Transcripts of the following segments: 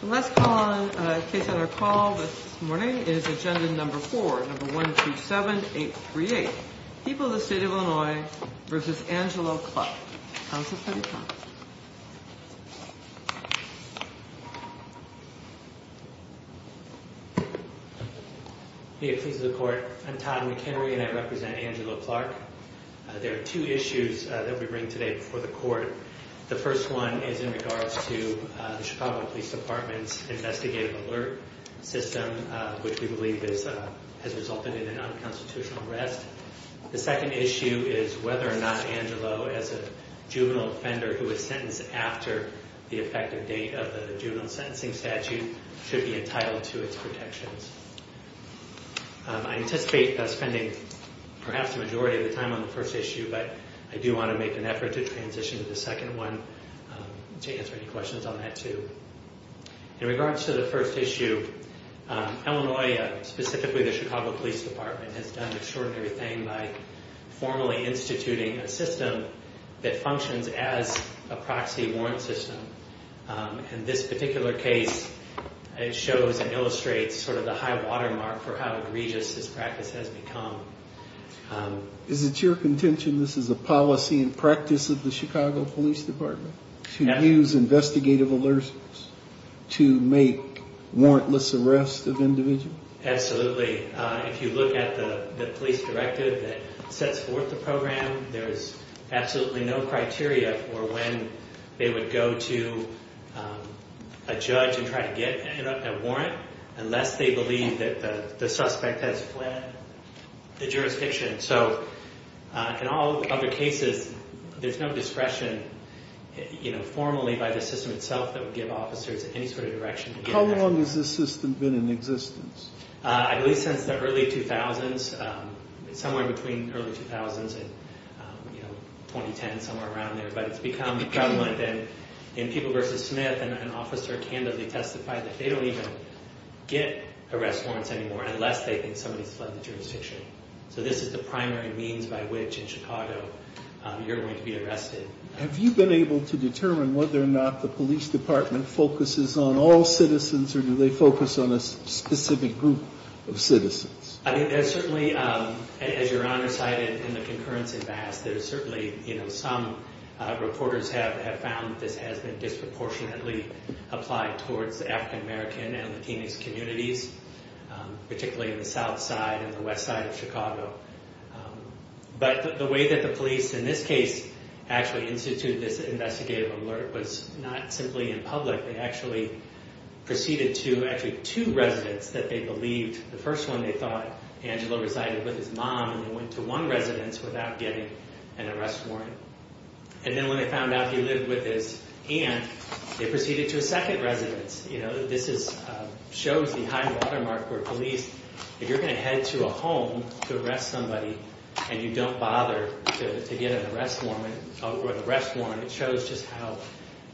The last case on our call this morning is agenda number 4, number 127838. People of the State of Illinois v. Angelo Clark. Counsel to the defense. May it please the court, I'm Todd McHenry and I represent Angelo Clark. There are two issues that we bring today before the court. The first one is in regards to the Chicago Police Department's investigative alert system, which we believe has resulted in an unconstitutional arrest. The second issue is whether or not Angelo, as a juvenile offender who was sentenced after the effective date of the juvenile sentencing statute, should be entitled to its protections. I anticipate spending perhaps the majority of the time on the first issue, but I do want to make an effort to transition to the second one to answer any questions on that too. In regards to the first issue, Illinois, specifically the Chicago Police Department, has done an extraordinary thing by formally instituting a system that functions as a proxy warrant system. In this particular case, it shows and illustrates sort of the high watermark for how egregious this practice has become. Is it your contention this is a policy and practice of the Chicago Police Department to use investigative alerts to make warrantless arrests of individuals? Absolutely. If you look at the police directive that sets forth the program, there is absolutely no criteria for when they would go to a judge and try to get a warrant unless they believe that the suspect has fled the jurisdiction. In all other cases, there's no discretion formally by the system itself that would give officers any sort of direction. How long has this system been in existence? I believe since the early 2000s, somewhere between the early 2000s and 2010, somewhere around there. But it's become prevalent that in People v. Smith, an officer candidly testified that they don't even get arrest warrants anymore unless they think somebody has fled the jurisdiction. So this is the primary means by which in Chicago you're going to be arrested. Have you been able to determine whether or not the police department focuses on all citizens or do they focus on a specific group of citizens? I think there's certainly, as Your Honor cited in the concurrence in Bass, there's certainly, you know, some reporters have found that this has been disproportionately applied towards African American and Latinx communities, particularly in the south side and the west side of Chicago. But the way that the police in this case actually instituted this investigative alert was not simply in public. They actually proceeded to actually two residents that they believed. The first one they thought, Angelo, resided with his mom, and they went to one residence without getting an arrest warrant. And then when they found out he lived with his aunt, they proceeded to a second residence. You know, this shows the high watermark for police. If you're going to head to a home to arrest somebody and you don't bother to get an arrest warrant, it shows just how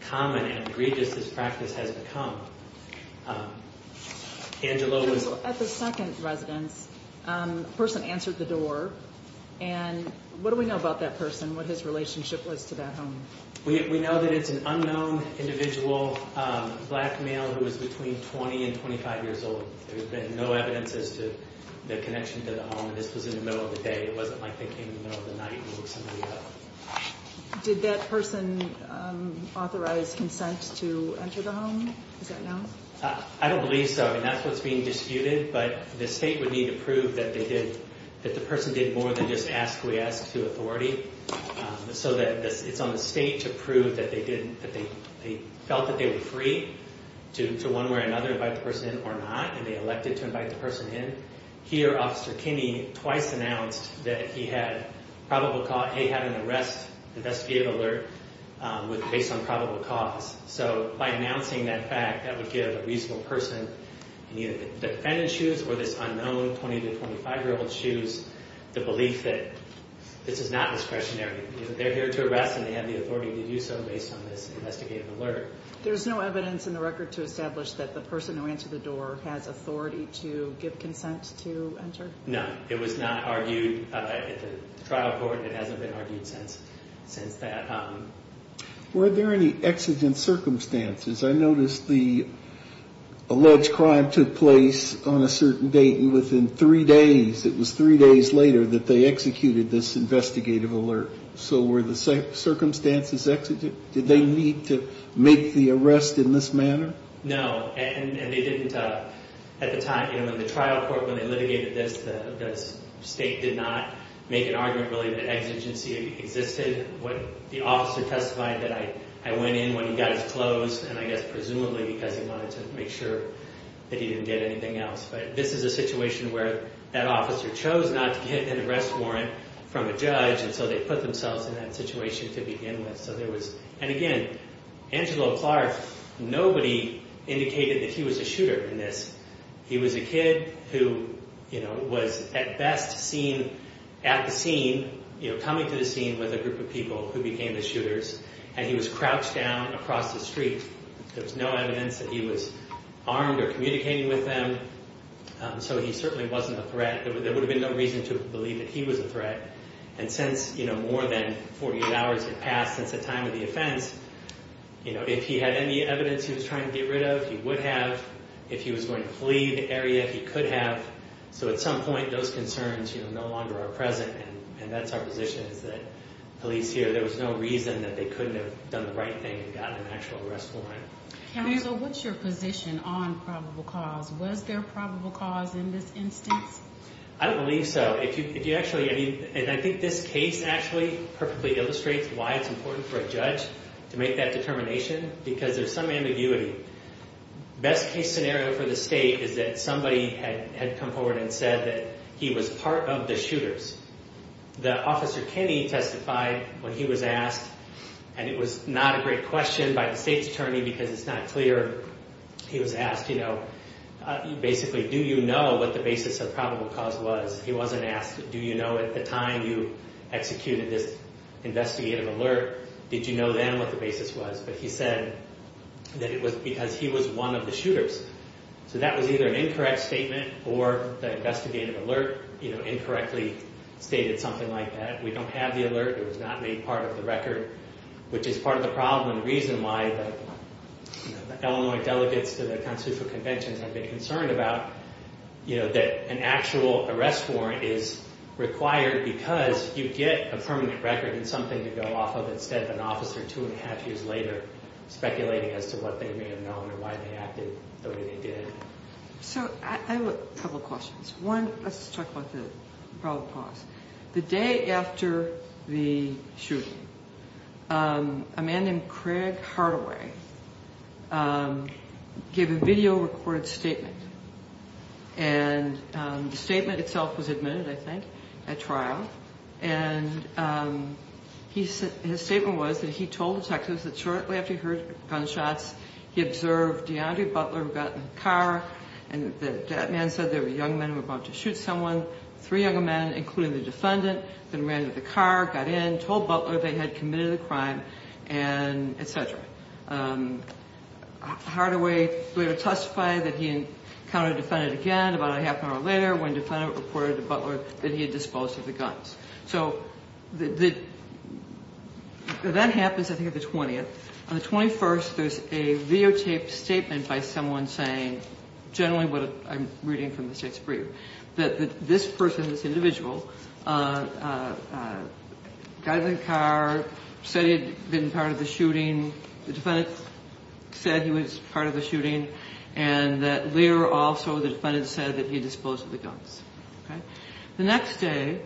common and egregious this practice has become. Angelo was- At the second residence, a person answered the door. And what do we know about that person, what his relationship was to that home? We know that it's an unknown individual, a black male who was between 20 and 25 years old. There's been no evidence as to the connection to the home. This was in the middle of the day. It wasn't like they came in the middle of the night and looked somebody up. Did that person authorize consent to enter the home? Is that known? I don't believe so. I mean, that's what's being disputed. But the state would need to prove that they did-that the person did more than just ask, we ask, to authority. So that it's on the state to prove that they did-that they felt that they were free to, one way or another, invite the person in or not. And they elected to invite the person in. Here, Officer Kinney twice announced that he had probable cause-he had an arrest investigative alert based on probable cause. So by announcing that fact, that would give a reasonable person in either the defendant's shoes or this unknown 20 to 25-year-old's shoes the belief that this is not discretionary. They're here to arrest and they have the authority to do so based on this investigative alert. There's no evidence in the record to establish that the person who answered the door has authority to give consent to enter? No. It was not argued at the trial court. It hasn't been argued since that. Were there any exigent circumstances? I noticed the alleged crime took place on a certain date and within three days-it was three days later that they executed this investigative alert. So were the circumstances exigent? Did they need to make the arrest in this manner? No. And they didn't-at the time-in the trial court when they litigated this, the state did not make an argument really that exigency existed. The officer testified that I went in when he got his clothes and I guess presumably because he wanted to make sure that he didn't get anything else. But this is a situation where that officer chose not to get an arrest warrant from a judge and so they put themselves in that situation to begin with. And again, Angelo Clark, nobody indicated that he was a shooter in this. He was a kid who was at best seen at the scene, coming to the scene with a group of people who became the shooters, and he was crouched down across the street. There was no evidence that he was armed or communicating with them, so he certainly wasn't a threat. There would have been no reason to believe that he was a threat. And since more than 48 hours had passed since the time of the offense, if he had any evidence he was trying to get rid of, he would have. If he was going to flee the area, he could have. So at some point, those concerns no longer are present, and that's our position is that police here, there was no reason that they couldn't have done the right thing and gotten an actual arrest warrant. Angelo, what's your position on probable cause? Was there probable cause in this instance? I don't believe so. And I think this case actually perfectly illustrates why it's important for a judge to make that determination because there's some ambiguity. Best case scenario for the state is that somebody had come forward and said that he was part of the shooters. The officer, Kenny, testified when he was asked, and it was not a great question by the state's attorney because it's not clear. He was asked, basically, do you know what the basis of probable cause was? He wasn't asked, do you know at the time you executed this investigative alert, did you know then what the basis was? But he said that it was because he was one of the shooters. So that was either an incorrect statement or the investigative alert incorrectly stated something like that. We don't have the alert. It was not made part of the record, which is part of the problem and the reason why the Illinois delegates to the constitutional conventions have been concerned about, you know, that an actual arrest warrant is required because you get a permanent record and something to go off of instead of an officer two and a half years later speculating as to what they may have known or why they acted the way they did. So I have a couple questions. One, let's talk about the probable cause. The day after the shooting, a man named Craig Hardaway gave a video-recorded statement, and the statement itself was admitted, I think, at trial. And his statement was that he told detectives that shortly after he heard gunshots, he observed DeAndre Butler got in the car, and that man said there were young men who were about to shoot someone. Three young men, including the defendant, then ran to the car, got in, told Butler they had committed the crime, and et cetera. Hardaway later testified that he encountered the defendant again about a half an hour later when the defendant reported to Butler that he had disposed of the guns. So that happens, I think, on the 20th. On the 21st, there's a videotaped statement by someone saying generally what I'm reading from the state's brief, that this person, this individual, got in the car, said he had been part of the shooting. The defendant said he was part of the shooting, and that later also the defendant said that he had disposed of the guns. The next day,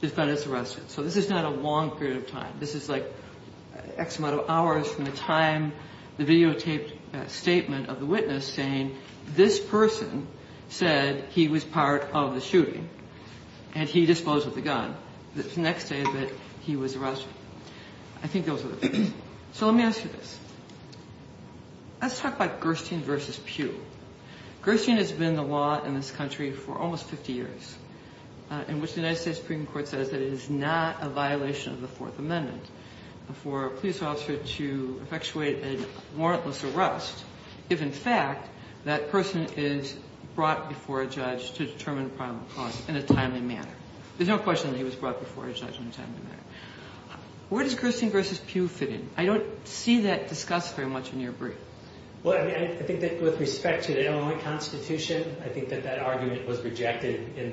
the defendant's arrested. So this is not a long period of time. This is like X amount of hours from the time the videotaped statement of the witness saying this person said he was part of the shooting, and he disposed of the gun. The next day that he was arrested. I think those are the things. So let me ask you this. Let's talk about Gerstein v. Pugh. Gerstein has been the law in this country for almost 50 years, in which the United States Supreme Court says that it is not a violation of the Fourth Amendment for a police officer to effectuate a warrantless arrest if, in fact, that person is brought before a judge to determine a crime or cause in a timely manner. There's no question that he was brought before a judge in a timely manner. Where does Gerstein v. Pugh fit in? I don't see that discussed very much in your brief. Well, I think that with respect to the Illinois Constitution, I think that that argument was rejected in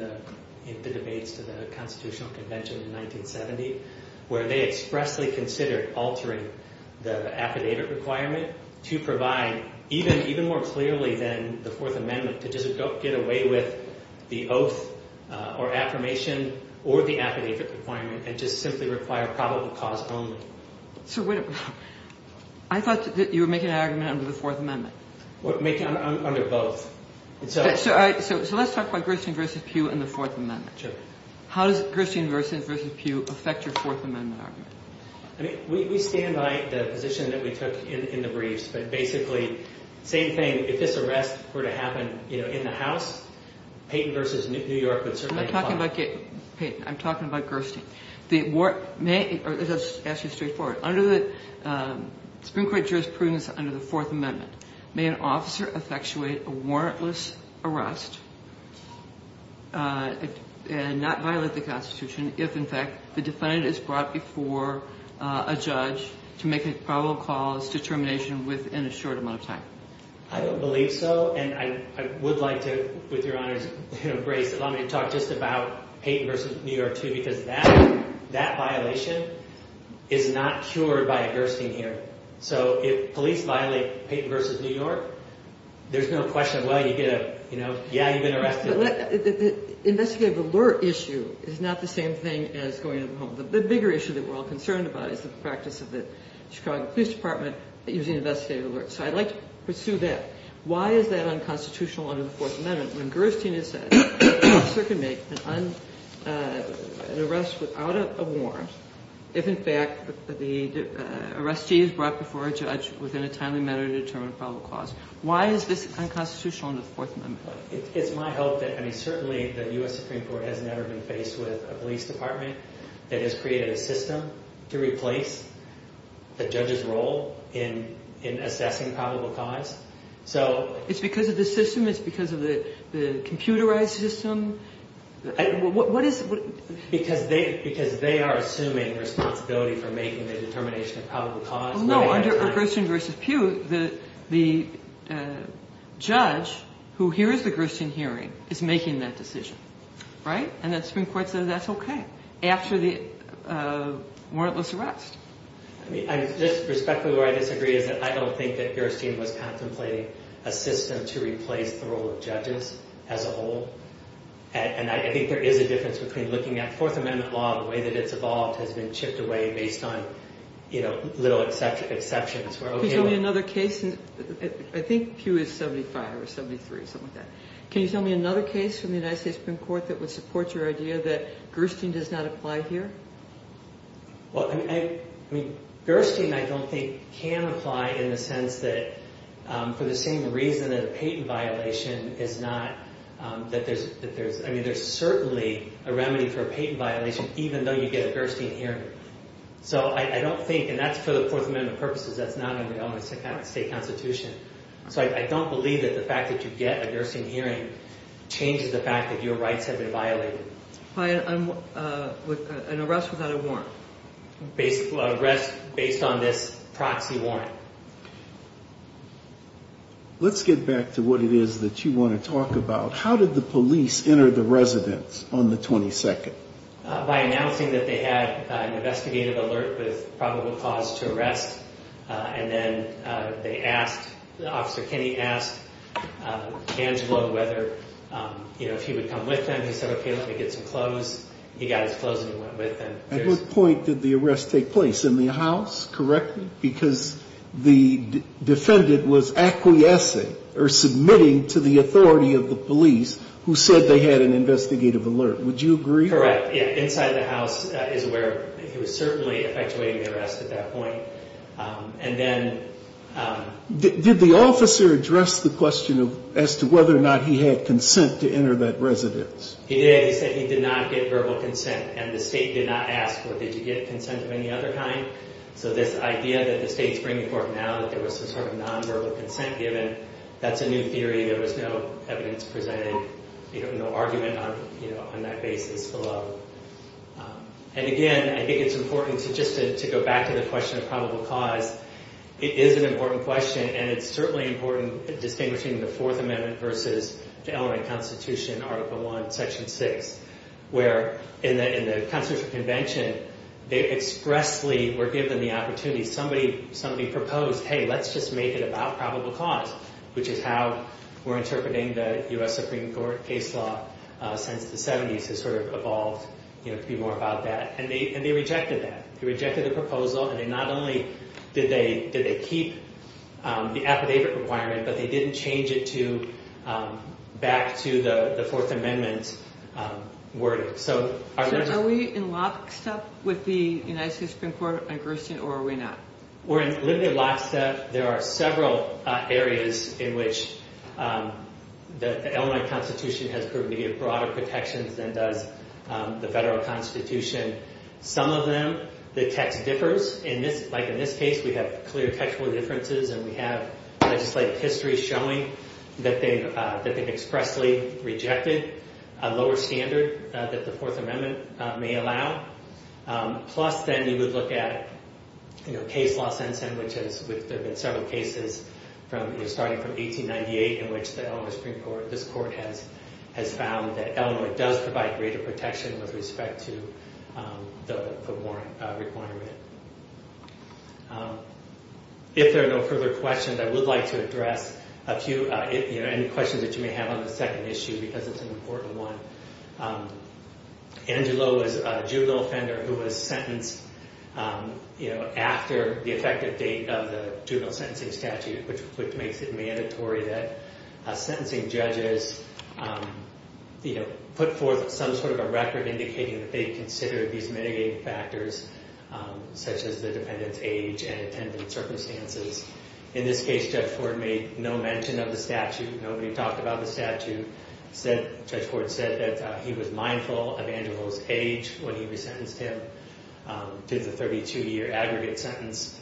the debates to the Constitutional Convention in 1970, where they expressly considered altering the affidavit requirement to provide even more clearly than the Fourth Amendment to just get away with the oath or affirmation or the affidavit requirement and just simply require probable cause only. I thought that you were making an argument under the Fourth Amendment. Under both. So let's talk about Gerstein v. Pugh and the Fourth Amendment. Sure. How does Gerstein v. Pugh affect your Fourth Amendment argument? I mean, we stand by the position that we took in the briefs. But basically, same thing. If this arrest were to happen in the House, Payton v. New York would certainly comply. I'm not talking about Payton. I'm talking about Gerstein. This is actually straightforward. Under the Supreme Court jurisprudence under the Fourth Amendment, may an officer effectuate a warrantless arrest and not violate the Constitution if, in fact, the defendant is brought before a judge to make a probable cause determination within a short amount of time? I don't believe so. And I would like to, with your honor's grace, allow me to talk just about Payton v. New York, too, because that violation is not cured by a Gerstein here. So if police violate Payton v. New York, there's no question of, well, you get a, you know, yeah, you've been arrested. But the investigative alert issue is not the same thing as going to the home. The bigger issue that we're all concerned about is the practice of the Chicago Police Department using investigative alerts. So I'd like to pursue that. Why is that unconstitutional under the Fourth Amendment when Gerstein has said an officer can make an arrest without a warrant if, in fact, the arrestee is brought before a judge within a timely manner to determine a probable cause? Why is this unconstitutional under the Fourth Amendment? It's my hope that – I mean, certainly the U.S. Supreme Court has never been faced with a police department that has created a system to replace the judge's role in assessing probable cause. So – It's because of the system? It's because of the computerized system? What is – Because they are assuming responsibility for making the determination of probable cause. Well, no, under Gerstein v. Pew, the judge who hears the Gerstein hearing is making that decision, right? And the Supreme Court says that's okay after the warrantless arrest. I mean, I just respectfully – what I disagree is that I don't think that Gerstein was contemplating a system to replace the role of judges as a whole. And I think there is a difference between looking at Fourth Amendment law, the way that it's evolved, has been chipped away based on little exceptions. Can you tell me another case – I think Pew is 75 or 73 or something like that. Can you tell me another case from the United States Supreme Court that would support your idea that Gerstein does not apply here? Well, I mean, Gerstein, I don't think, can apply in the sense that for the same reason that a patent violation is not – that there's – I mean, there's certainly a remedy for a patent violation even though you get a Gerstein hearing. So I don't think – and that's for the Fourth Amendment purposes. That's not in the Illinois state constitution. So I don't believe that the fact that you get a Gerstein hearing changes the fact that your rights have been violated. I'm with an arrest without a warrant. Arrest based on this proxy warrant. Let's get back to what it is that you want to talk about. How did the police enter the residence on the 22nd? By announcing that they had an investigative alert with probable cause to arrest. And then they asked – Officer Kenny asked Angelo whether, you know, if he would come with them. He said, okay, let me get some clothes. He got his clothes and he went with them. At what point did the arrest take place? In the house, correctly? Because the defendant was acquiescing or submitting to the authority of the police who said they had an investigative alert. Would you agree? Correct. Inside the house is where he was certainly effectuating the arrest at that point. And then – Did the officer address the question as to whether or not he had consent to enter that residence? He did. He said he did not get verbal consent. And the state did not ask, well, did you get consent of any other kind? So this idea that the state is bringing forth now that there was some sort of nonverbal consent given, that's a new theory. There was no evidence presented, no argument on that basis below. And again, I think it's important to just – to go back to the question of probable cause. It is an important question and it's certainly important distinguishing the Fourth Amendment versus the LRA Constitution, Article I, Section 6, where in the Constitutional Convention, they expressly were given the opportunity. Somebody proposed, hey, let's just make it about probable cause, which is how we're interpreting the U.S. Supreme Court case law since the 70s. It's sort of evolved to be more about that. And they rejected that. They rejected the proposal and they not only – did they keep the affidavit requirement, but they didn't change it back to the Fourth Amendment wording. So are we in lockstep with the United States Supreme Court on Gerstin or are we not? We're in limited lockstep. There are several areas in which the LRA Constitution has proven to give broader protections than does the Federal Constitution. Some of them, the text differs. Like in this case, we have clear textual differences and we have legislative history showing that they've expressly rejected a lower standard that the Fourth Amendment may allow. Plus, then you would look at case law since then, which has – there have been several cases starting from 1898 in which the LRA Supreme Court – this court has found that LRA does provide greater protection with respect to the foot warrant requirement. If there are no further questions, I would like to address a few – any questions that you may have on the second issue because it's an important one. Angelo was a juvenile offender who was sentenced after the effective date of the juvenile sentencing statute, which makes it mandatory that sentencing judges put forth some sort of a record indicating that they considered these mitigating factors. Such as the defendant's age and attendant circumstances. In this case, Judge Ford made no mention of the statute. Nobody talked about the statute. Judge Ford said that he was mindful of Angelo's age when he was sentenced to the 32-year aggregate sentence.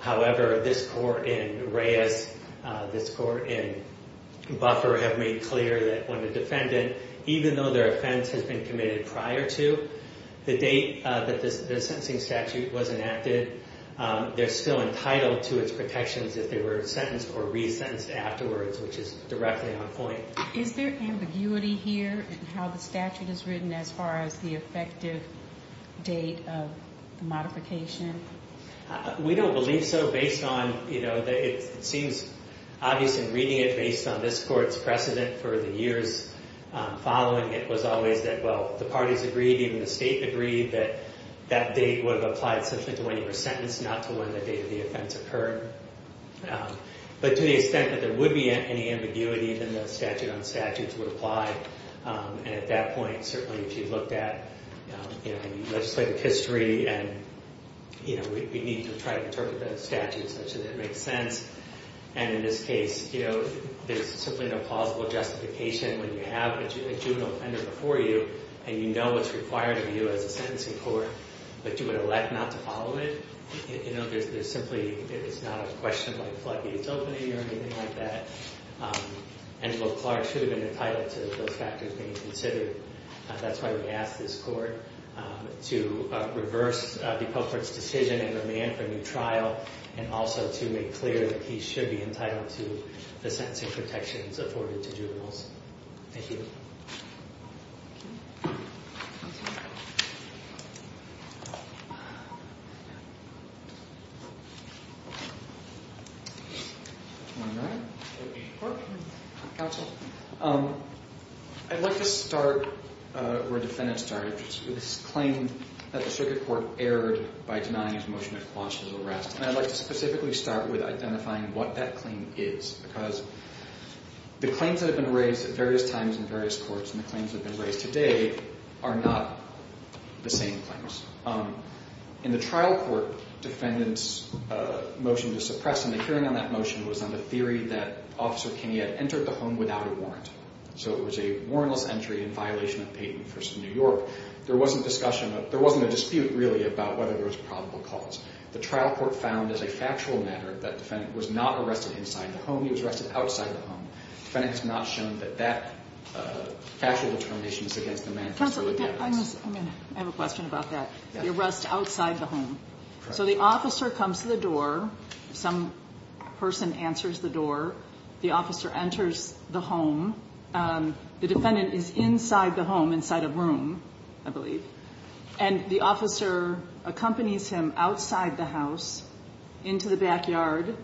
However, this court in Reyes, this court in Buffer, have made clear that when a defendant, even though their offense has been committed prior to the date that the sentencing statute was enacted, they're still entitled to its protections if they were sentenced or resentenced afterwards, which is directly on point. Is there ambiguity here in how the statute is written as far as the effective date of modification? We don't believe so based on, you know, it seems obvious in reading it based on this court's precedent for the years following. It was always that, well, the parties agreed, even the state agreed, that that date would apply essentially to when you were sentenced, not to when the date of the offense occurred. But to the extent that there would be any ambiguity, then the statute on statutes would apply. And at that point, certainly if you looked at legislative history and, you know, we need to try to interpret the statute such that it makes sense. And in this case, you know, there's simply no plausible justification when you have a juvenile offender before you and you know what's required of you as a sentencing court, but you would elect not to follow it. You know, there's simply, it's not a question of like floodgates opening or anything like that. Angelo Clark should have been entitled to those factors being considered. That's why we asked this court to reverse the culprit's decision and demand for a new trial and also to make clear that he should be entitled to the sentencing protections afforded to juveniles. Thank you. I'd like to start where defendants started with this claim that the circuit court erred by denying his motion to quash his arrest. And I'd like to specifically start with identifying what that claim is, because the claims that have been raised at various times in various jurisdictions and the claims that have been raised today are not the same claims. In the trial court, defendant's motion to suppress him, the hearing on that motion, was on the theory that Officer Kinney had entered the home without a warrant. So it was a warrantless entry in violation of Peyton v. New York. There wasn't discussion, there wasn't a dispute really about whether there was probable cause. The trial court found as a factual matter that defendant was not arrested inside the home. He was arrested outside the home. The defendant has not shown that that factual determination is against the manifesto. Counsel, I have a question about that. The arrest outside the home. So the officer comes to the door. Some person answers the door. The officer enters the home. The defendant is inside the home, inside a room, I believe. And the officer accompanies him outside the house, into the backyard,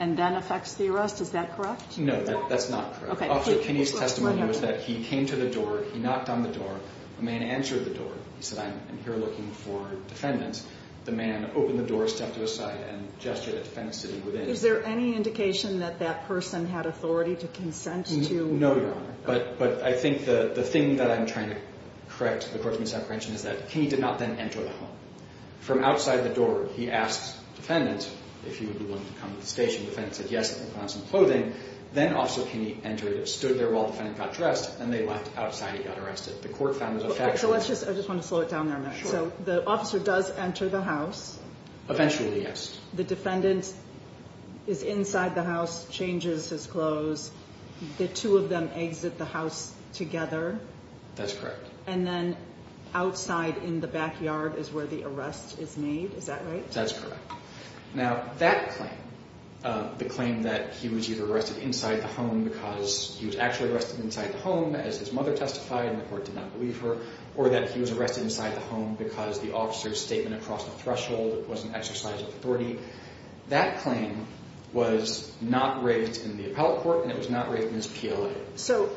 and then affects the arrest. Is that correct? No, that's not correct. Officer Kinney's testimony was that he came to the door. He knocked on the door. A man answered the door. He said, I'm here looking for defendants. The man opened the door, stepped to his side, and gestured at defendant sitting within. Is there any indication that that person had authority to consent to? No, Your Honor. But I think the thing that I'm trying to correct according to this apprehension is that Kinney did not then enter the home. From outside the door, he asked defendant if he would be willing to come to the station. Defendant said yes. He found some clothing. Then Officer Kinney entered, stood there while defendant got dressed, and they left outside. He got arrested. The court found his affections. I just want to slow it down there a minute. Sure. So the officer does enter the house. Eventually, yes. The defendant is inside the house, changes his clothes. The two of them exit the house together. That's correct. And then outside in the backyard is where the arrest is made. Is that right? That's correct. Now that claim, the claim that he was either arrested inside the home because he was actually arrested inside the home as his mother testified and the court did not believe her, or that he was arrested inside the home because the officer's statement across the threshold was an exercise of authority, that claim was not raked in the appellate court, and it was not raked in his PLA. So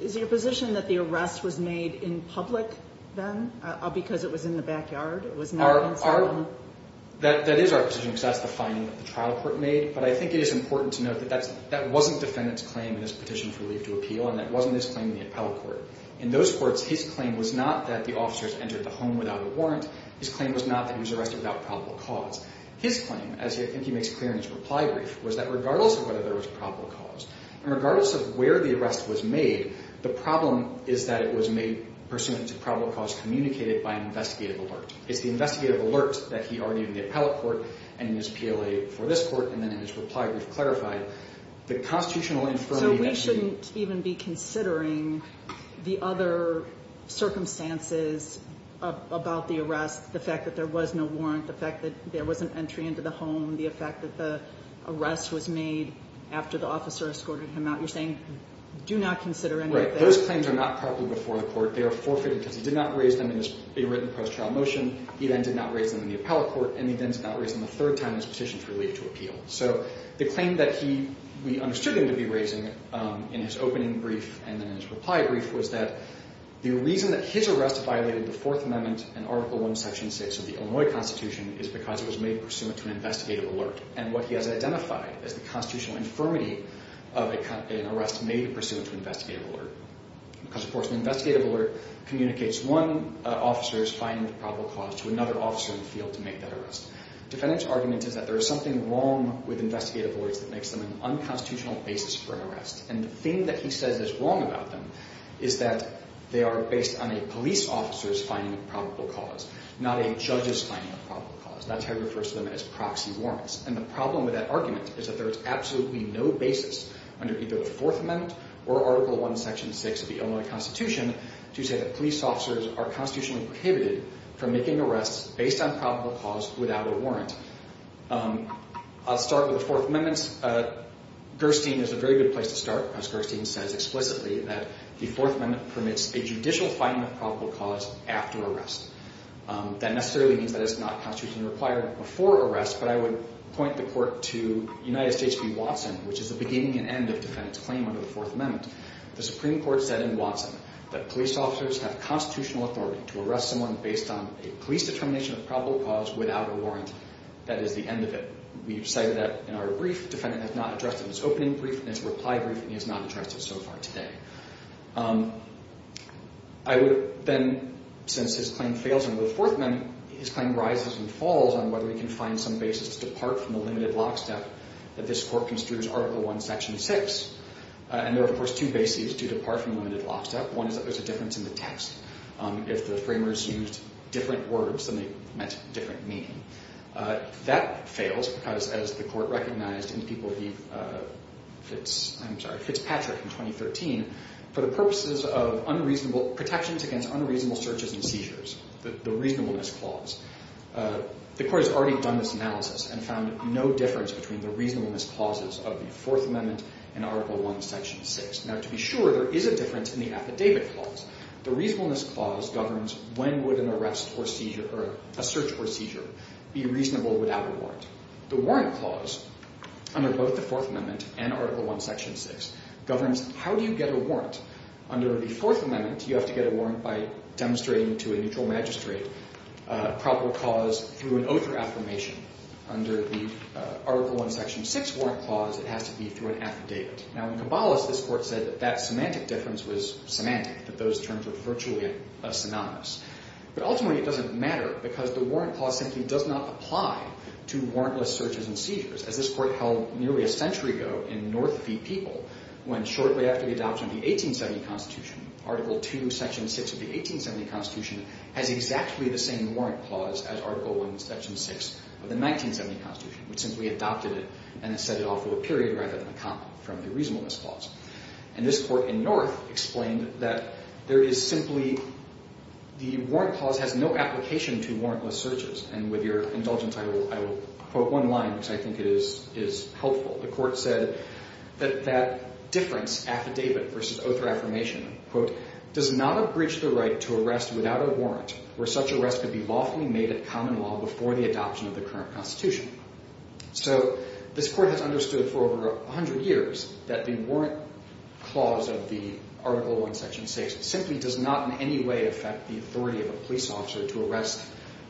is your position that the arrest was made in public then because it was in the backyard? It was not inside the home? That is our position because that's the finding that the trial court made, but I think it is important to note that that wasn't defendant's claim in his petition for relief to appeal and that wasn't his claim in the appellate court. In those courts, his claim was not that the officers entered the home without a warrant. His claim was not that he was arrested without probable cause. His claim, as I think he makes clear in his reply brief, was that regardless of whether there was probable cause, and regardless of where the arrest was made, the problem is that it was made pursuant to probable cause communicated by an investigative alert. It's the investigative alert that he argued in the appellate court and in his PLA for this court, and then in his reply brief clarified the constitutional infirmity that he... So we shouldn't even be considering the other circumstances about the arrest, the fact that there was no warrant, the fact that there was an entry into the home, the fact that the arrest was made after the officer escorted him out. You're saying do not consider any of this. Right. Those claims are not properly before the court. They are forfeited because he did not raise them in a written post-trial motion. He then did not raise them in the appellate court, and he then did not raise them the third time in his petition for relief to appeal. So the claim that we understood him to be raising in his opening brief and then in his reply brief was that the reason that his arrest violated the Fourth Amendment and Article I, Section 6 of the Illinois Constitution is because it was made pursuant to an investigative alert, and what he has identified as the constitutional infirmity of an arrest made pursuant to an investigative alert because, of course, an investigative alert communicates one officer's finding of probable cause to another officer in the field to make that arrest. Defendant's argument is that there is something wrong with investigative alerts that makes them an unconstitutional basis for an arrest, and the thing that he says is wrong about them is that they are based on a police officer's finding of probable cause, not a judge's finding of probable cause. That's how he refers to them as proxy warrants, and the problem with that argument is that there is absolutely no basis under either the Fourth Amendment or Article I, Section 6 of the Illinois Constitution to say that police officers are constitutionally prohibited from making arrests based on probable cause without a warrant. I'll start with the Fourth Amendment. Gerstein is a very good place to start, because Gerstein says explicitly that the Fourth Amendment permits a judicial finding of probable cause after arrest. That necessarily means that it's not constitutionally required before arrest, but I would point the court to United States v. Watson, which is the beginning and end of defendant's claim under the Fourth Amendment. The Supreme Court said in Watson that police officers have constitutional authority to arrest someone based on a police determination of probable cause without a warrant. That is the end of it. We've cited that in our brief. Defendant has not addressed it in his opening brief and his reply brief, and he has not addressed it so far today. I would then, since his claim fails under the Fourth Amendment, his claim rises and falls on whether we can find some basis to depart from the limited lockstep that this court construes Article I, Section 6. And there are, of course, two bases to depart from limited lockstep. One is that there's a difference in the text. If the framers used different words, then they meant different meaning. That fails, because as the court recognized in Fitzpatrick in 2013, for the purposes of protections against unreasonable searches and seizures, the reasonableness clause, the court has already done this analysis and found no difference between the reasonableness clauses of the Fourth Amendment and Article I, Section 6. Now, to be sure, there is a difference in the affidavit clause. The reasonableness clause governs when would a search or seizure be reasonable without a warrant. The warrant clause, under both the Fourth Amendment and Article I, Section 6, governs how do you get a warrant. Under the Fourth Amendment, you have to get a warrant by demonstrating to a neutral magistrate a proper cause through an oath or affirmation. Under the Article I, Section 6 warrant clause, it has to be through an affidavit. Now, in Caballos, this court said that that semantic difference was semantic, that those terms were virtually synonymous. But ultimately, it doesn't matter, because the warrant clause simply does not apply to warrantless searches and seizures. As this court held nearly a century ago in North v. People, when shortly after the adoption of the 1870 Constitution, Article II, Section 6 of the 1870 Constitution has exactly the same warrant clause as Article I, Section 6 of the 1970 Constitution, which simply adopted it and set it off to a period rather than a comment from the reasonableness clause. And this court in North explained that there is simply— the warrant clause has no application to warrantless searches. And with your indulgence, I will quote one line, which I think is helpful. The court said that that difference, affidavit versus oath or affirmation, quote, does not have breached the right to arrest without a warrant, where such arrest could be lawfully made a common law before the adoption of the current Constitution. So this court has understood for over 100 years that the warrant clause of the Article I, Section 6 simply does not in any way affect the authority of a police officer to arrest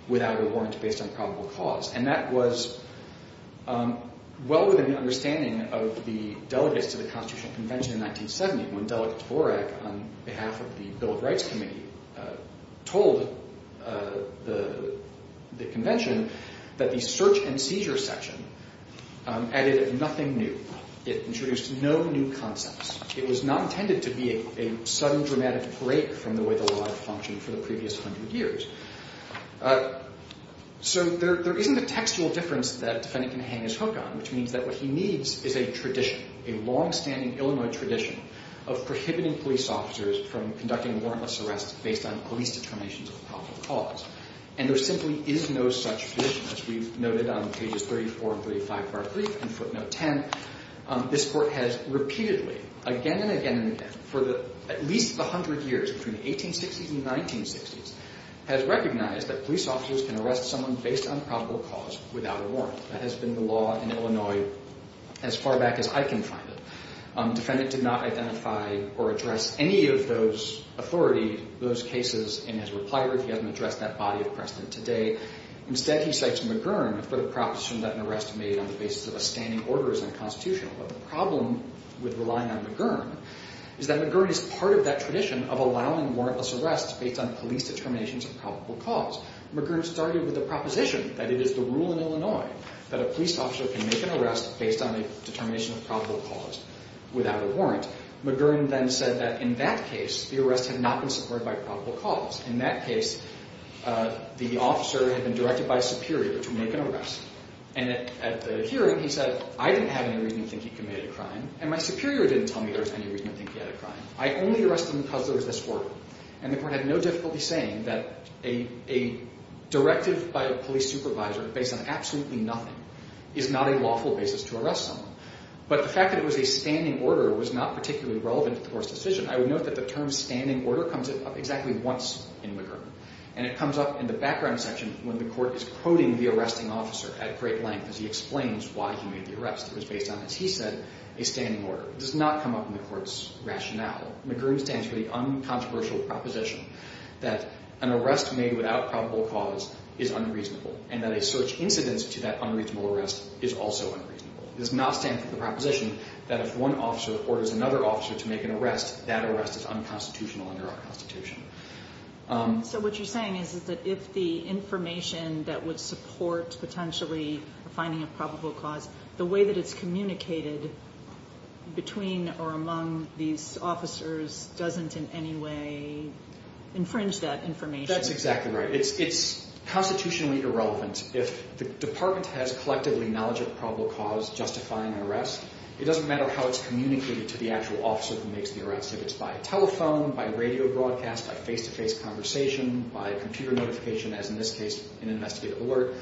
without a warrant based on probable cause. And that was well within the understanding of the delegates to the Constitutional Convention in 1970 when Delegate Borak, on behalf of the Bill of Rights Committee, told the Convention that the search and seizure section added nothing new. It introduced no new concepts. It was not intended to be a sudden dramatic break from the way the law had functioned for the previous 100 years. So there isn't a textual difference that a defendant can hang his hook on, which means that what he needs is a tradition, a longstanding Illinois tradition of prohibiting police officers from conducting warrantless arrests based on police determinations of probable cause. And there simply is no such tradition. As we've noted on pages 34 and 35 of our brief and footnote 10, this Court has repeatedly, again and again and again, for at least the 100 years between the 1860s and the 1960s, has recognized that police officers can arrest someone based on probable cause without a warrant. That has been the law in Illinois as far back as I can find it. The defendant did not identify or address any of those authorities, those cases, in his reply. He hasn't addressed that body of precedent today. Instead, he cites McGurn for the proposition that an arrest made on the basis of a standing order is unconstitutional. But the problem with relying on McGurn is that McGurn is part of that tradition of allowing warrantless arrests based on police determinations of probable cause. McGurn started with the proposition that it is the rule in Illinois that a police officer can make an arrest based on a determination of probable cause without a warrant. McGurn then said that in that case, the arrest had not been supported by probable cause. In that case, the officer had been directed by a superior to make an arrest. And at the hearing, he said, I didn't have any reason to think he committed a crime, and my superior didn't tell me there was any reason to think he had a crime. I only arrested him because there was this order. And the court had no difficulty saying that a directive by a police supervisor based on absolutely nothing is not a lawful basis to arrest someone. But the fact that it was a standing order was not particularly relevant to the court's decision. I would note that the term standing order comes up exactly once in McGurn. And it comes up in the background section when the court is quoting the arresting officer at great length as he explains why he made the arrest. It was based on, as he said, a standing order. It does not come up in the court's rationale. McGurn stands for the uncontroversial proposition that an arrest made without probable cause is unreasonable and that a search incidence to that unreasonable arrest is also unreasonable. It does not stand for the proposition that if one officer orders another officer to make an arrest, that arrest is unconstitutional under our Constitution. So what you're saying is that if the information that would support potentially finding a probable cause, the way that it's communicated between or among these officers doesn't in any way infringe that information. That's exactly right. It's constitutionally irrelevant. If the department has collectively knowledge of probable cause justifying an arrest, it doesn't matter how it's communicated to the actual officer who makes the arrest. If it's by telephone, by radio broadcast, by face-to-face conversation, by computer notification, as in this case an investigative alert,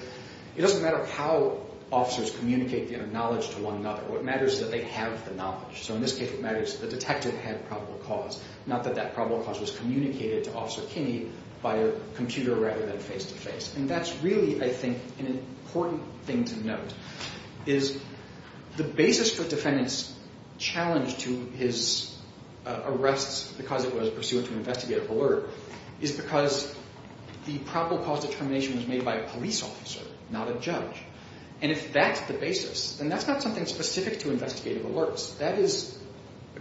it doesn't matter how officers communicate their knowledge to one another. What matters is that they have the knowledge. So in this case, what matters is that the detective had probable cause, not that that probable cause was communicated to Officer Kinney by a computer rather than face-to-face. And that's really, I think, an important thing to note, is the basis for defendants' challenge to his arrests because it was pursuant to an investigative alert is because the probable cause determination was made by a police officer, not a judge. And if that's the basis, then that's not something specific to investigative alerts. That is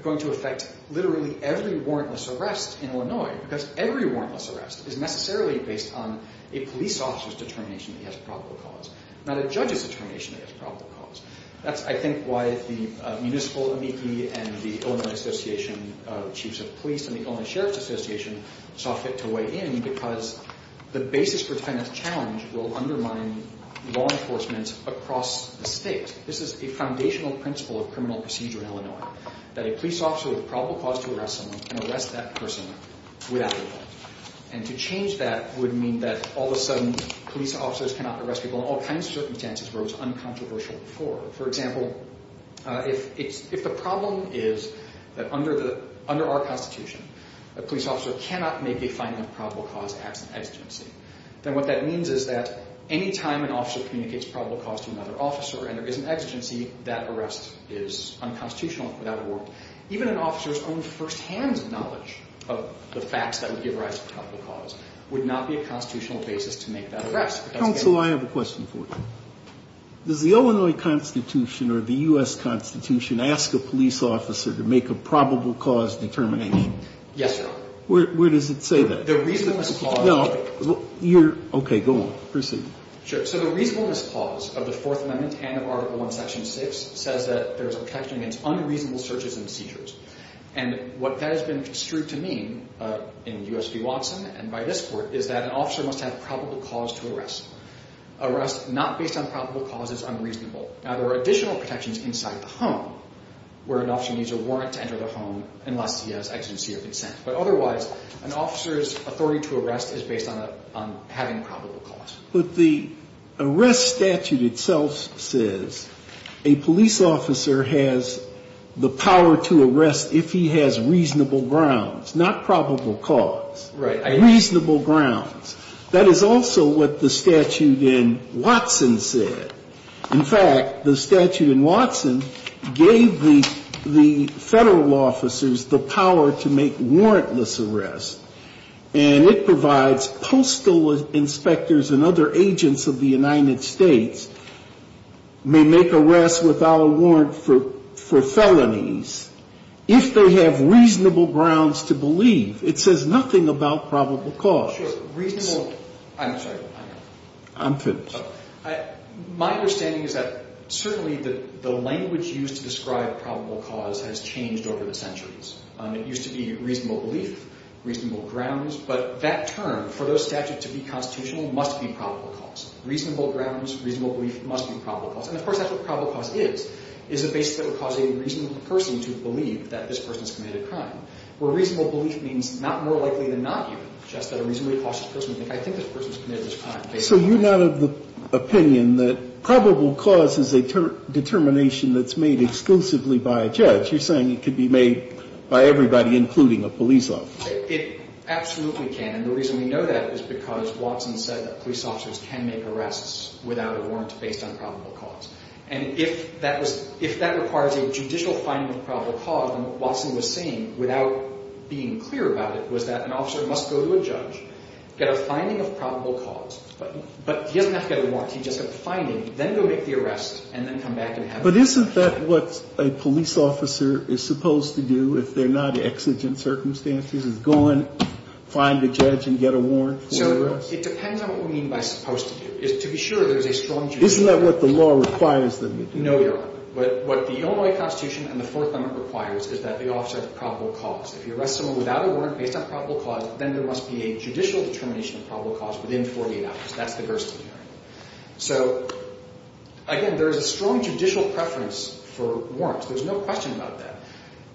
going to affect literally every warrantless arrest in Illinois because every warrantless arrest is necessarily based on a police officer's determination that he has probable cause, not a judge's determination that he has probable cause. That's, I think, why the municipal MEP and the Illinois Association of Chiefs of Police and the Illinois Sheriff's Association saw fit to weigh in because the basis for defendants' challenge will undermine law enforcement across the state. This is a foundational principle of criminal procedure in Illinois, that a police officer with probable cause to arrest someone can arrest that person without a warrant. And to change that would mean that all of a sudden police officers cannot arrest people in all kinds of circumstances where it was uncontroversial before. For example, if the problem is that under our Constitution, a police officer cannot make a finding of probable cause as an exigency, then what that means is that any time an officer communicates probable cause to another officer and there is an exigency, that arrest is unconstitutional without a warrant. Even an officer's own firsthand knowledge of the facts that would give rise to probable cause would not be a constitutional basis to make that arrest. Counsel, I have a question for you. Does the Illinois Constitution or the U.S. Constitution ask a police officer to make a probable cause determination? Yes, Your Honor. Where does it say that? The reasonableness clause. No. Okay, go on. Proceed. Sure. So the reasonableness clause of the Fourth Amendment and of Article I, Section 6 says that there is a protection against unreasonable searches and seizures. And what that has been construed to mean in U.S. v. Watson and by this Court is that an officer must have probable cause to arrest. Arrest not based on probable cause is unreasonable. Now, there are additional protections inside the home where an officer needs a warrant to enter the home unless he has exigency or consent. But otherwise, an officer's authority to arrest is based on having probable cause. But the arrest statute itself says a police officer has the power to arrest if he has reasonable grounds, not probable cause. Right. Reasonable grounds. That is also what the statute in Watson said. In fact, the statute in Watson gave the Federal officers the power to make warrantless arrests. And it provides postal inspectors and other agents of the United States may make arrests without a warrant for felonies if they have reasonable grounds to believe. It says nothing about probable cause. Reasonable. I'm sorry. I'm finished. My understanding is that certainly the language used to describe probable cause has changed over the centuries. It used to be reasonable belief, reasonable grounds. But that term, for those statutes to be constitutional, must be probable cause. Reasonable grounds, reasonable belief, must be probable cause. And, of course, that's what probable cause is, is a basis that would cause a reasonable person to believe that this person has committed a crime. Where reasonable belief means not more likely than not even just that a reasonably cautious person would think, I think this person has committed this crime. So you're not of the opinion that probable cause is a determination that's made exclusively by a judge. You're saying it could be made by everybody, including a police officer. It absolutely can. And the reason we know that is because Watson said that police officers can make arrests without a warrant based on probable cause. And if that requires a judicial finding of probable cause, then what Watson was saying, without being clear about it, was that an officer must go to a judge, get a finding of probable cause. But he doesn't have to get a warrant. He just gets a finding, then go make the arrest, and then come back and have it. But isn't that what a police officer is supposed to do if they're not exigent circumstances, is go and find a judge and get a warrant for the arrest? So it depends on what we mean by supposed to do. To be sure, there's a strong judgment. Isn't that what the law requires them to do? No, Your Honor. But what the Illinois Constitution and the Fourth Amendment requires is that the officer have probable cause. If you arrest someone without a warrant based on probable cause, then there must be a judicial determination of probable cause within 48 hours. That's the Gerstle hearing. So, again, there is a strong judicial preference for warrants. There's no question about that.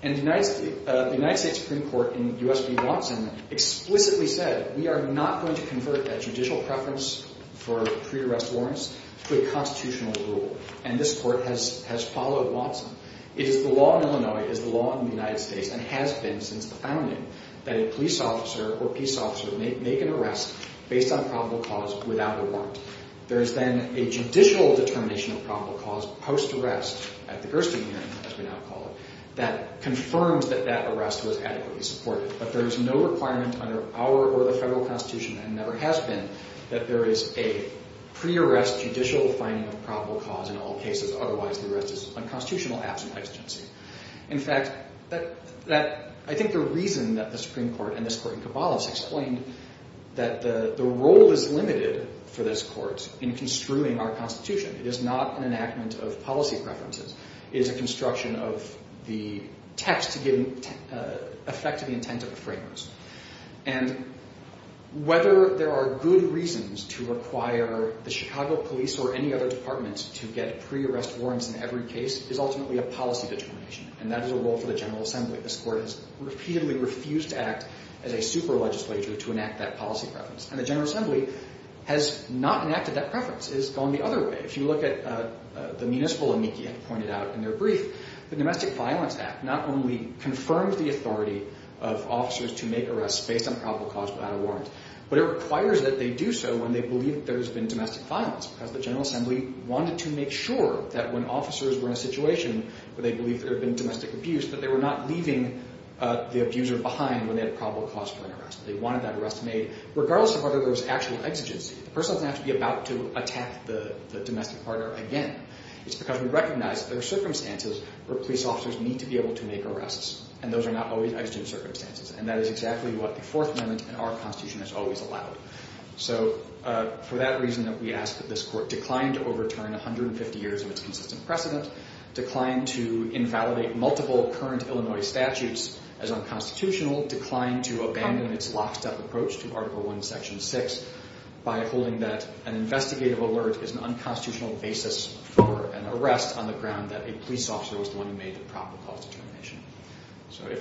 And the United States Supreme Court in U.S. v. Watson explicitly said, we are not going to convert that judicial preference for pre-arrest warrants to a constitutional rule. And this court has followed Watson. It is the law in Illinois, it is the law in the United States, and has been since the founding, that a police officer or peace officer may make an arrest based on probable cause without a warrant. There is then a judicial determination of probable cause post-arrest at the Gerstle hearing, as we now call it, that confirms that that arrest was adequately supported. But there is no requirement under our or the federal Constitution, and never has been, that there is a pre-arrest judicial finding of probable cause in all cases. Otherwise, the arrest is unconstitutional, absent exigency. In fact, I think the reason that the Supreme Court and this court in Caballos explained that the role is limited for this court in construing our Constitution. It is not an enactment of policy preferences. It is a construction of the text to give effect to the intent of the framers. And whether there are good reasons to require the Chicago police or any other department to get pre-arrest warrants in every case is ultimately a policy determination, and that is a role for the General Assembly. This court has repeatedly refused to act as a super-legislature to enact that policy preference. And the General Assembly has not enacted that preference. It has gone the other way. If you look at the municipal amici I pointed out in their brief, the Domestic Violence Act not only confirms the authority of officers to make arrests based on probable cause without a warrant, but it requires that they do so when they believe that there has been domestic violence because the General Assembly wanted to make sure that when officers were in a situation where they believed there had been domestic abuse, that they were not leaving the abuser behind when they had probable cause for an arrest. They wanted that arrest made regardless of whether there was actual exigency. The person doesn't have to be about to attack the domestic partner again. It's because we recognize that there are circumstances where police officers need to be able to make arrests, and those are not always exigent circumstances, and that is exactly what the Fourth Amendment in our Constitution has always allowed. So for that reason that we ask that this Court decline to overturn 150 years of its consistent precedent, decline to invalidate multiple current Illinois statutes as unconstitutional, decline to abandon its lockstep approach to Article I, Section 6, by holding that an investigative alert is an unconstitutional basis for an arrest on the ground that a police officer was the one who made the probable cause determination.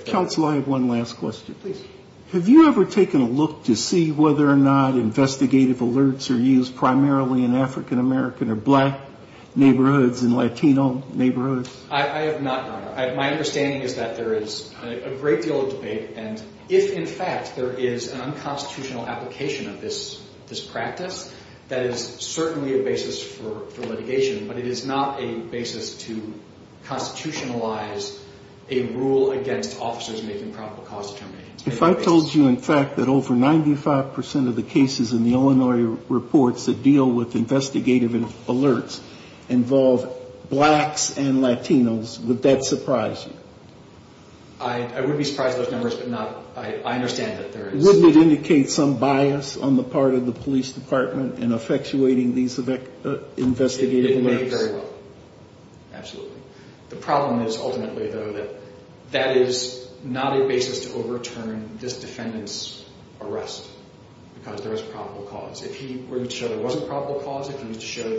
Counsel, I have one last question. Please. Have you ever taken a look to see whether or not investigative alerts are used primarily in African American or black neighborhoods and Latino neighborhoods? I have not, Your Honor. My understanding is that there is a great deal of debate, and if in fact there is an unconstitutional application of this practice, that is certainly a basis for litigation, but it is not a basis to constitutionalize a rule against officers making probable cause determinations. If I told you, in fact, that over 95 percent of the cases in the Illinois reports that deal with investigative alerts involve blacks and Latinos, would that surprise you? I wouldn't be surprised by those numbers, but I understand that there is. Wouldn't it indicate some bias on the part of the police department in effectuating these investigative alerts? Absolutely. The problem is ultimately, though, that that is not a basis to overturn this defendant's arrest because there is probable cause. If he were to show there wasn't probable cause, if he was to show that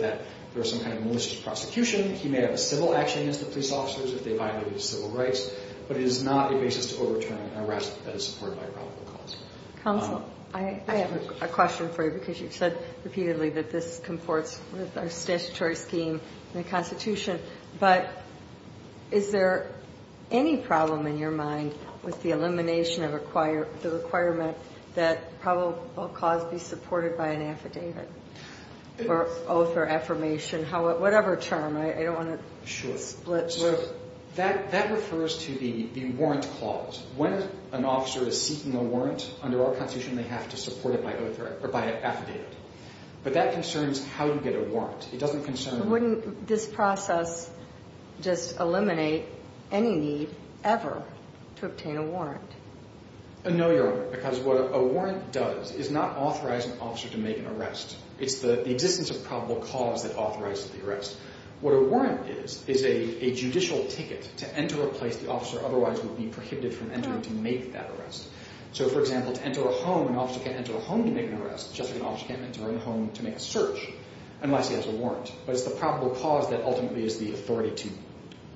there was some kind of malicious prosecution, he may have a civil action against the police officers if they violated civil rights, but it is not a basis to overturn an arrest that is supported by probable cause. Counsel, I have a question for you because you've said repeatedly that this comports with our statutory scheme in the Constitution, but is there any problem in your mind with the elimination of the requirement that probable cause be supported by an affidavit or oath or affirmation, whatever term? I don't want to split. That refers to the warrant clause. When an officer is seeking a warrant under our Constitution, they have to support it by an affidavit, but that concerns how you get a warrant. It doesn't concern— Wouldn't this process just eliminate any need ever to obtain a warrant? No, Your Honor, because what a warrant does is not authorize an officer to make an arrest. It's the existence of probable cause that authorizes the arrest. What a warrant is is a judicial ticket to enter a place the officer otherwise would be prohibited from entering to make that arrest. So, for example, to enter a home, an officer can't enter a home to make an arrest, just like an officer can't enter a home to make a search unless he has a warrant. But it's the probable cause that ultimately is the authority to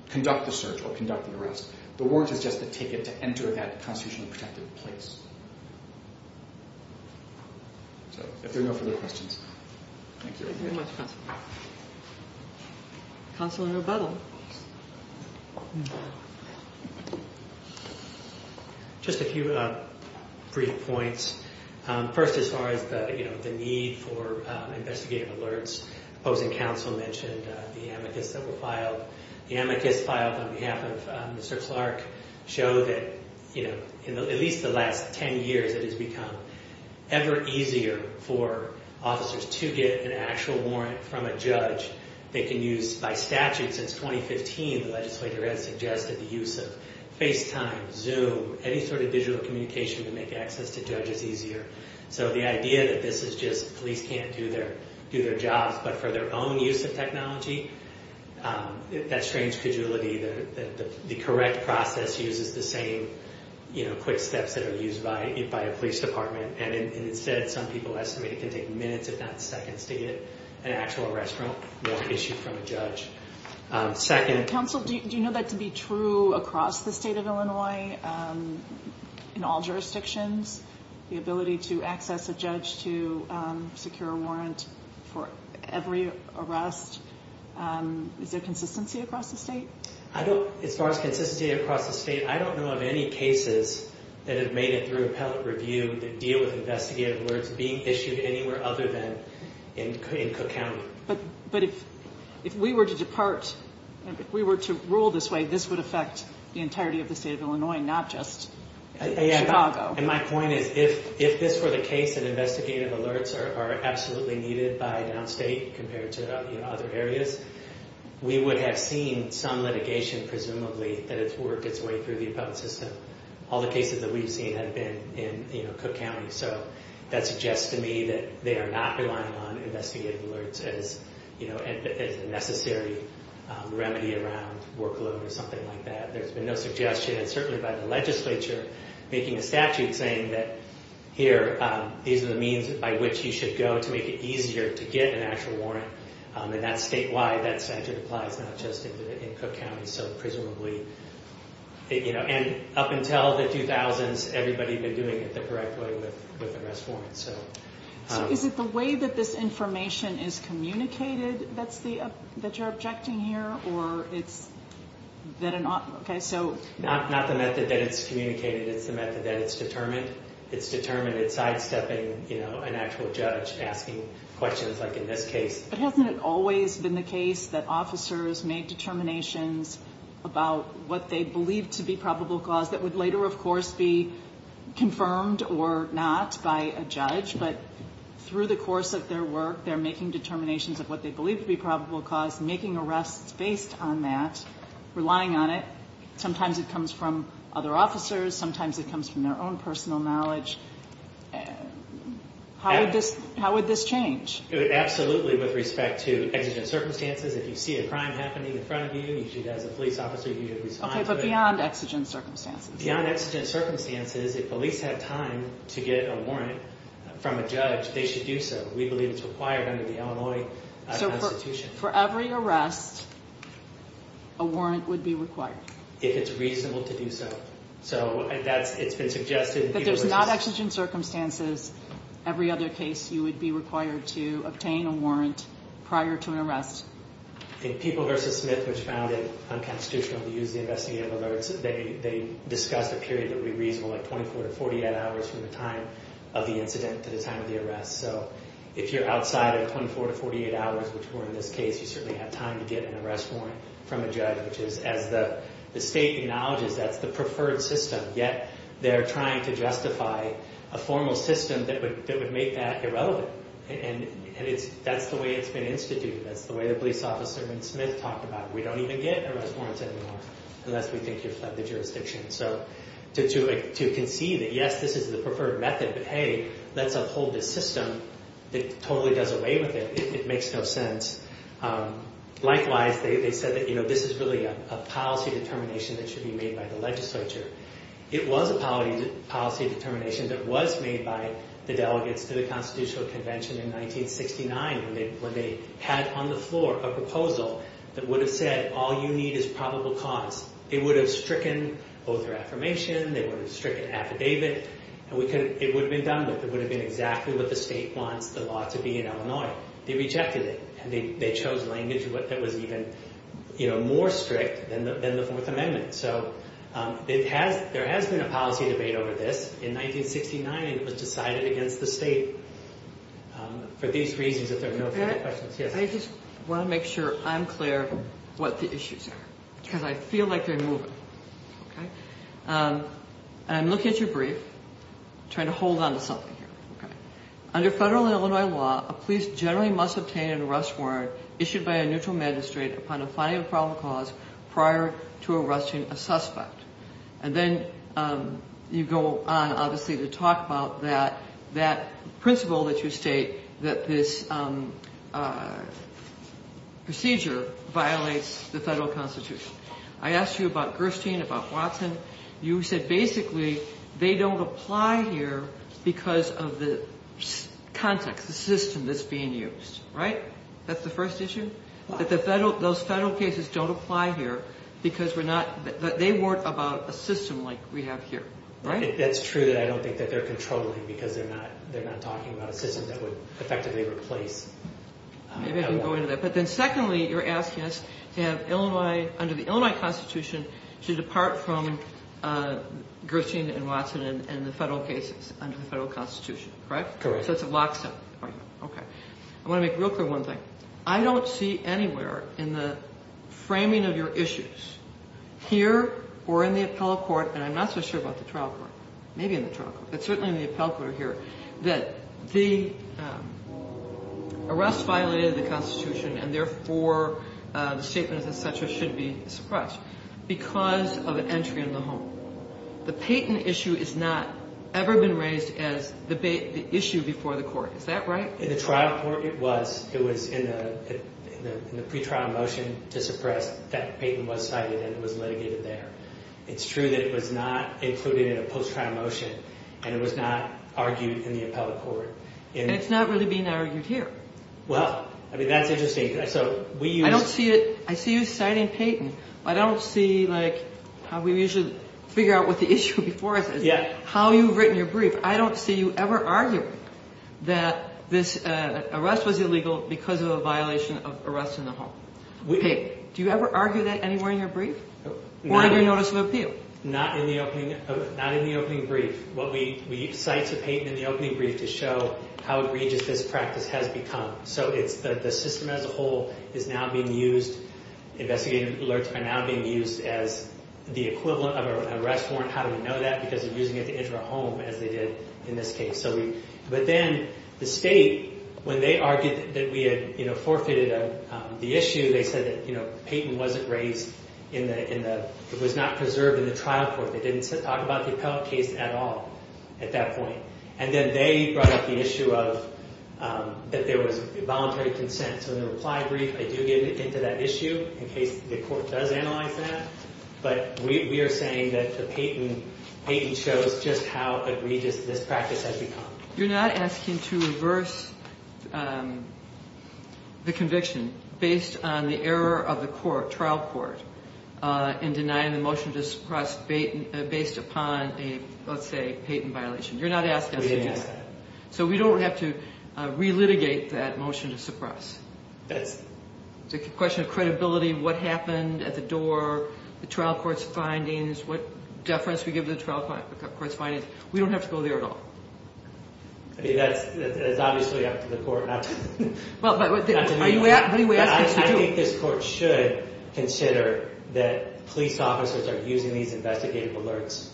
conduct the search or conduct the arrest. The warrant is just the ticket to enter that constitutionally protected place. So, if there are no further questions. Thank you very much, Counsel. Counsel in rebuttal. Counsel in rebuttal. Just a few brief points. First, as far as the need for investigative alerts, opposing counsel mentioned the amicus that was filed. The amicus filed on behalf of Mr. Clark showed that, you know, in at least the last 10 years, it has become ever easier for officers to get an actual warrant from a judge that they can use by statute since 2015. The legislature has suggested the use of FaceTime, Zoom, any sort of digital communication to make access to judges easier. So, the idea that this is just police can't do their jobs, but for their own use of technology, that strange cajolity, the correct process uses the same, you know, quick steps that are used by a police department. And instead, some people estimate it can take minutes, if not seconds, to get an actual arrest warrant issued from a judge. Second... Counsel, do you know that to be true across the state of Illinois, in all jurisdictions? The ability to access a judge to secure a warrant for every arrest? Is there consistency across the state? I don't, as far as consistency across the state, I don't know of any cases that have made it through appellate review that deal with investigative alerts being issued anywhere other than in Cook County. But if we were to depart, if we were to rule this way, this would affect the entirety of the state of Illinois, not just Chicago. And my point is, if this were the case, and investigative alerts are absolutely needed by downstate compared to other areas, we would have seen some litigation, presumably, that has worked its way through the appellate system. All the cases that we've seen have been in, you know, Cook County. So that suggests to me that they are not relying on investigative alerts as, you know, as a necessary remedy around workload or something like that. There's been no suggestion, and certainly by the legislature, making a statute saying that, here, these are the means by which you should go to make it easier to get an actual warrant. And that's statewide. That statute applies not just in Cook County. So presumably, you know, and up until the 2000s, everybody had been doing it the correct way with arrest warrants. So is it the way that this information is communicated that you're objecting here? Or it's that an—okay, so— Not the method that it's communicated. It's the method that it's determined. It's determined. It's sidestepping, you know, an actual judge asking questions, like in this case. But hasn't it always been the case that officers made determinations about what they believed to be probable cause that would later, of course, be confirmed or not by a judge? But through the course of their work, they're making determinations of what they believe to be probable cause, making arrests based on that, relying on it. Sometimes it comes from other officers. Sometimes it comes from their own personal knowledge. How would this change? Absolutely with respect to exigent circumstances. If you see a crime happening in front of you, you should, as a police officer, you should respond to it. Okay, but beyond exigent circumstances? Beyond exigent circumstances, if police have time to get a warrant from a judge, they should do so. We believe it's required under the Illinois Constitution. So for every arrest, a warrant would be required? If it's reasonable to do so. So that's—it's been suggested— If there's not exigent circumstances, every other case you would be required to obtain a warrant prior to an arrest. In People v. Smith, which found it unconstitutional to use the investigative alerts, they discussed a period that would be reasonable at 24 to 48 hours from the time of the incident to the time of the arrest. So if you're outside of 24 to 48 hours, which we're in this case, you certainly have time to get an arrest warrant from a judge, which is, as the state acknowledges, that's the preferred system. Yet they're trying to justify a formal system that would make that irrelevant. And that's the way it's been instituted. That's the way the police officer in Smith talked about it. We don't even get arrest warrants anymore unless we think you've fled the jurisdiction. So to concede that yes, this is the preferred method, but hey, let's uphold this system that totally does away with it. It makes no sense. Likewise, they said that this is really a policy determination that should be made by the legislature. It was a policy determination that was made by the delegates to the Constitutional Convention in 1969 when they had on the floor a proposal that would have said, all you need is probable cause. It would have stricken oath or affirmation. It would have stricken affidavit. It would have been done with. It would have been exactly what the state wants the law to be in Illinois. They rejected it. And they chose language that was even more strict than the Fourth Amendment. So there has been a policy debate over this. In 1969, it was decided against the state for these reasons, if there are no further questions. I just want to make sure I'm clear what the issues are because I feel like they're moving. I'm looking at your brief, trying to hold on to something here. Under federal Illinois law, a police generally must obtain an arrest warrant issued by a neutral magistrate upon a finding of probable cause prior to arresting a suspect. And then you go on, obviously, to talk about that principle that you state, that this procedure violates the federal constitution. I asked you about Gerstein, about Watson. You said basically they don't apply here because of the context, the system that's being used, right? That's the first issue? That those federal cases don't apply here because they weren't about a system like we have here, right? That's true. I don't think that they're controlling because they're not talking about a system that would effectively replace Illinois. Maybe I can go into that. But then secondly, you're asking us to have Illinois, under the Illinois constitution, to depart from Gerstein and Watson and the federal cases under the federal constitution, correct? Correct. So it's a lockstep argument. Okay. I want to make real clear one thing. I don't see anywhere in the framing of your issues here or in the appellate court, and I'm not so sure about the trial court, maybe in the trial court, but certainly in the appellate court or here, that the arrest violated the constitution and, therefore, the statements, et cetera, should be suppressed because of an entry in the home. The Payton issue has not ever been raised as the issue before the court. Is that right? In the trial court, it was. It was in the pretrial motion to suppress that Payton was cited and it was litigated there. It's true that it was not included in a post-trial motion and it was not argued in the appellate court. And it's not really being argued here. Well, I mean, that's interesting. I don't see it. I see you citing Payton. I don't see, like, how we usually figure out what the issue before it is, how you've written your brief. I don't see you ever arguing that this arrest was illegal because of a violation of arrest in the home. Payton, do you ever argue that anywhere in your brief? Or in your notice of appeal? Not in the opening brief. What we cite to Payton in the opening brief to show how egregious this practice has become. So it's the system as a whole is now being used. Investigative alerts are now being used as the equivalent of an arrest warrant. How do we know that? Because they're using it to enter a home, as they did in this case. But then the state, when they argued that we had forfeited the issue, they said that Payton wasn't raised in the— it was not preserved in the trial court. They didn't talk about the appellate case at all at that point. And then they brought up the issue of—that there was involuntary consent. So in the reply brief, I do get into that issue in case the court does analyze that. But we are saying that Payton shows just how egregious this practice has become. You're not asking to reverse the conviction based on the error of the court, trial court, in denying the motion to suppress based upon a, let's say, Payton violation. You're not asking us to do that. We didn't ask that. So we don't have to relitigate that motion to suppress. That's— It's a question of credibility, what happened at the door, the trial court's findings, what deference we give to the trial court's findings. We don't have to go there at all. I mean, that's obviously up to the court, not to me. Well, but what do you ask us to do? I think this court should consider that police officers are using these investigative alerts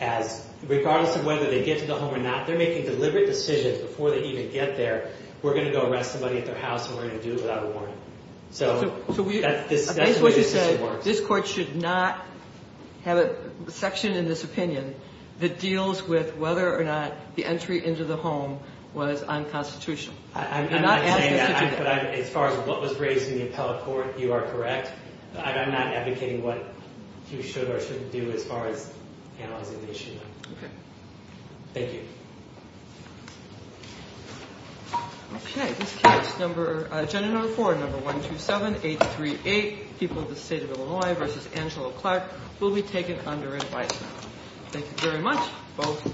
as— regardless of whether they get to the home or not, they're making deliberate decisions before they even get there. We're going to go arrest somebody at their house, and we're going to do it without a warrant. So that's the way this works. So we—based on what you say, this court should not have a section in this opinion that deals with whether or not the entry into the home was unconstitutional. I'm not saying that, but as far as what was raised in the appellate court, you are correct. I'm not advocating what you should or shouldn't do as far as analyzing the issue. Okay. Thank you. Okay. This case, number—agenda number four, number 127838, People of the State of Illinois v. Angelo Clark, will be taken under advisement. Thank you very much, both.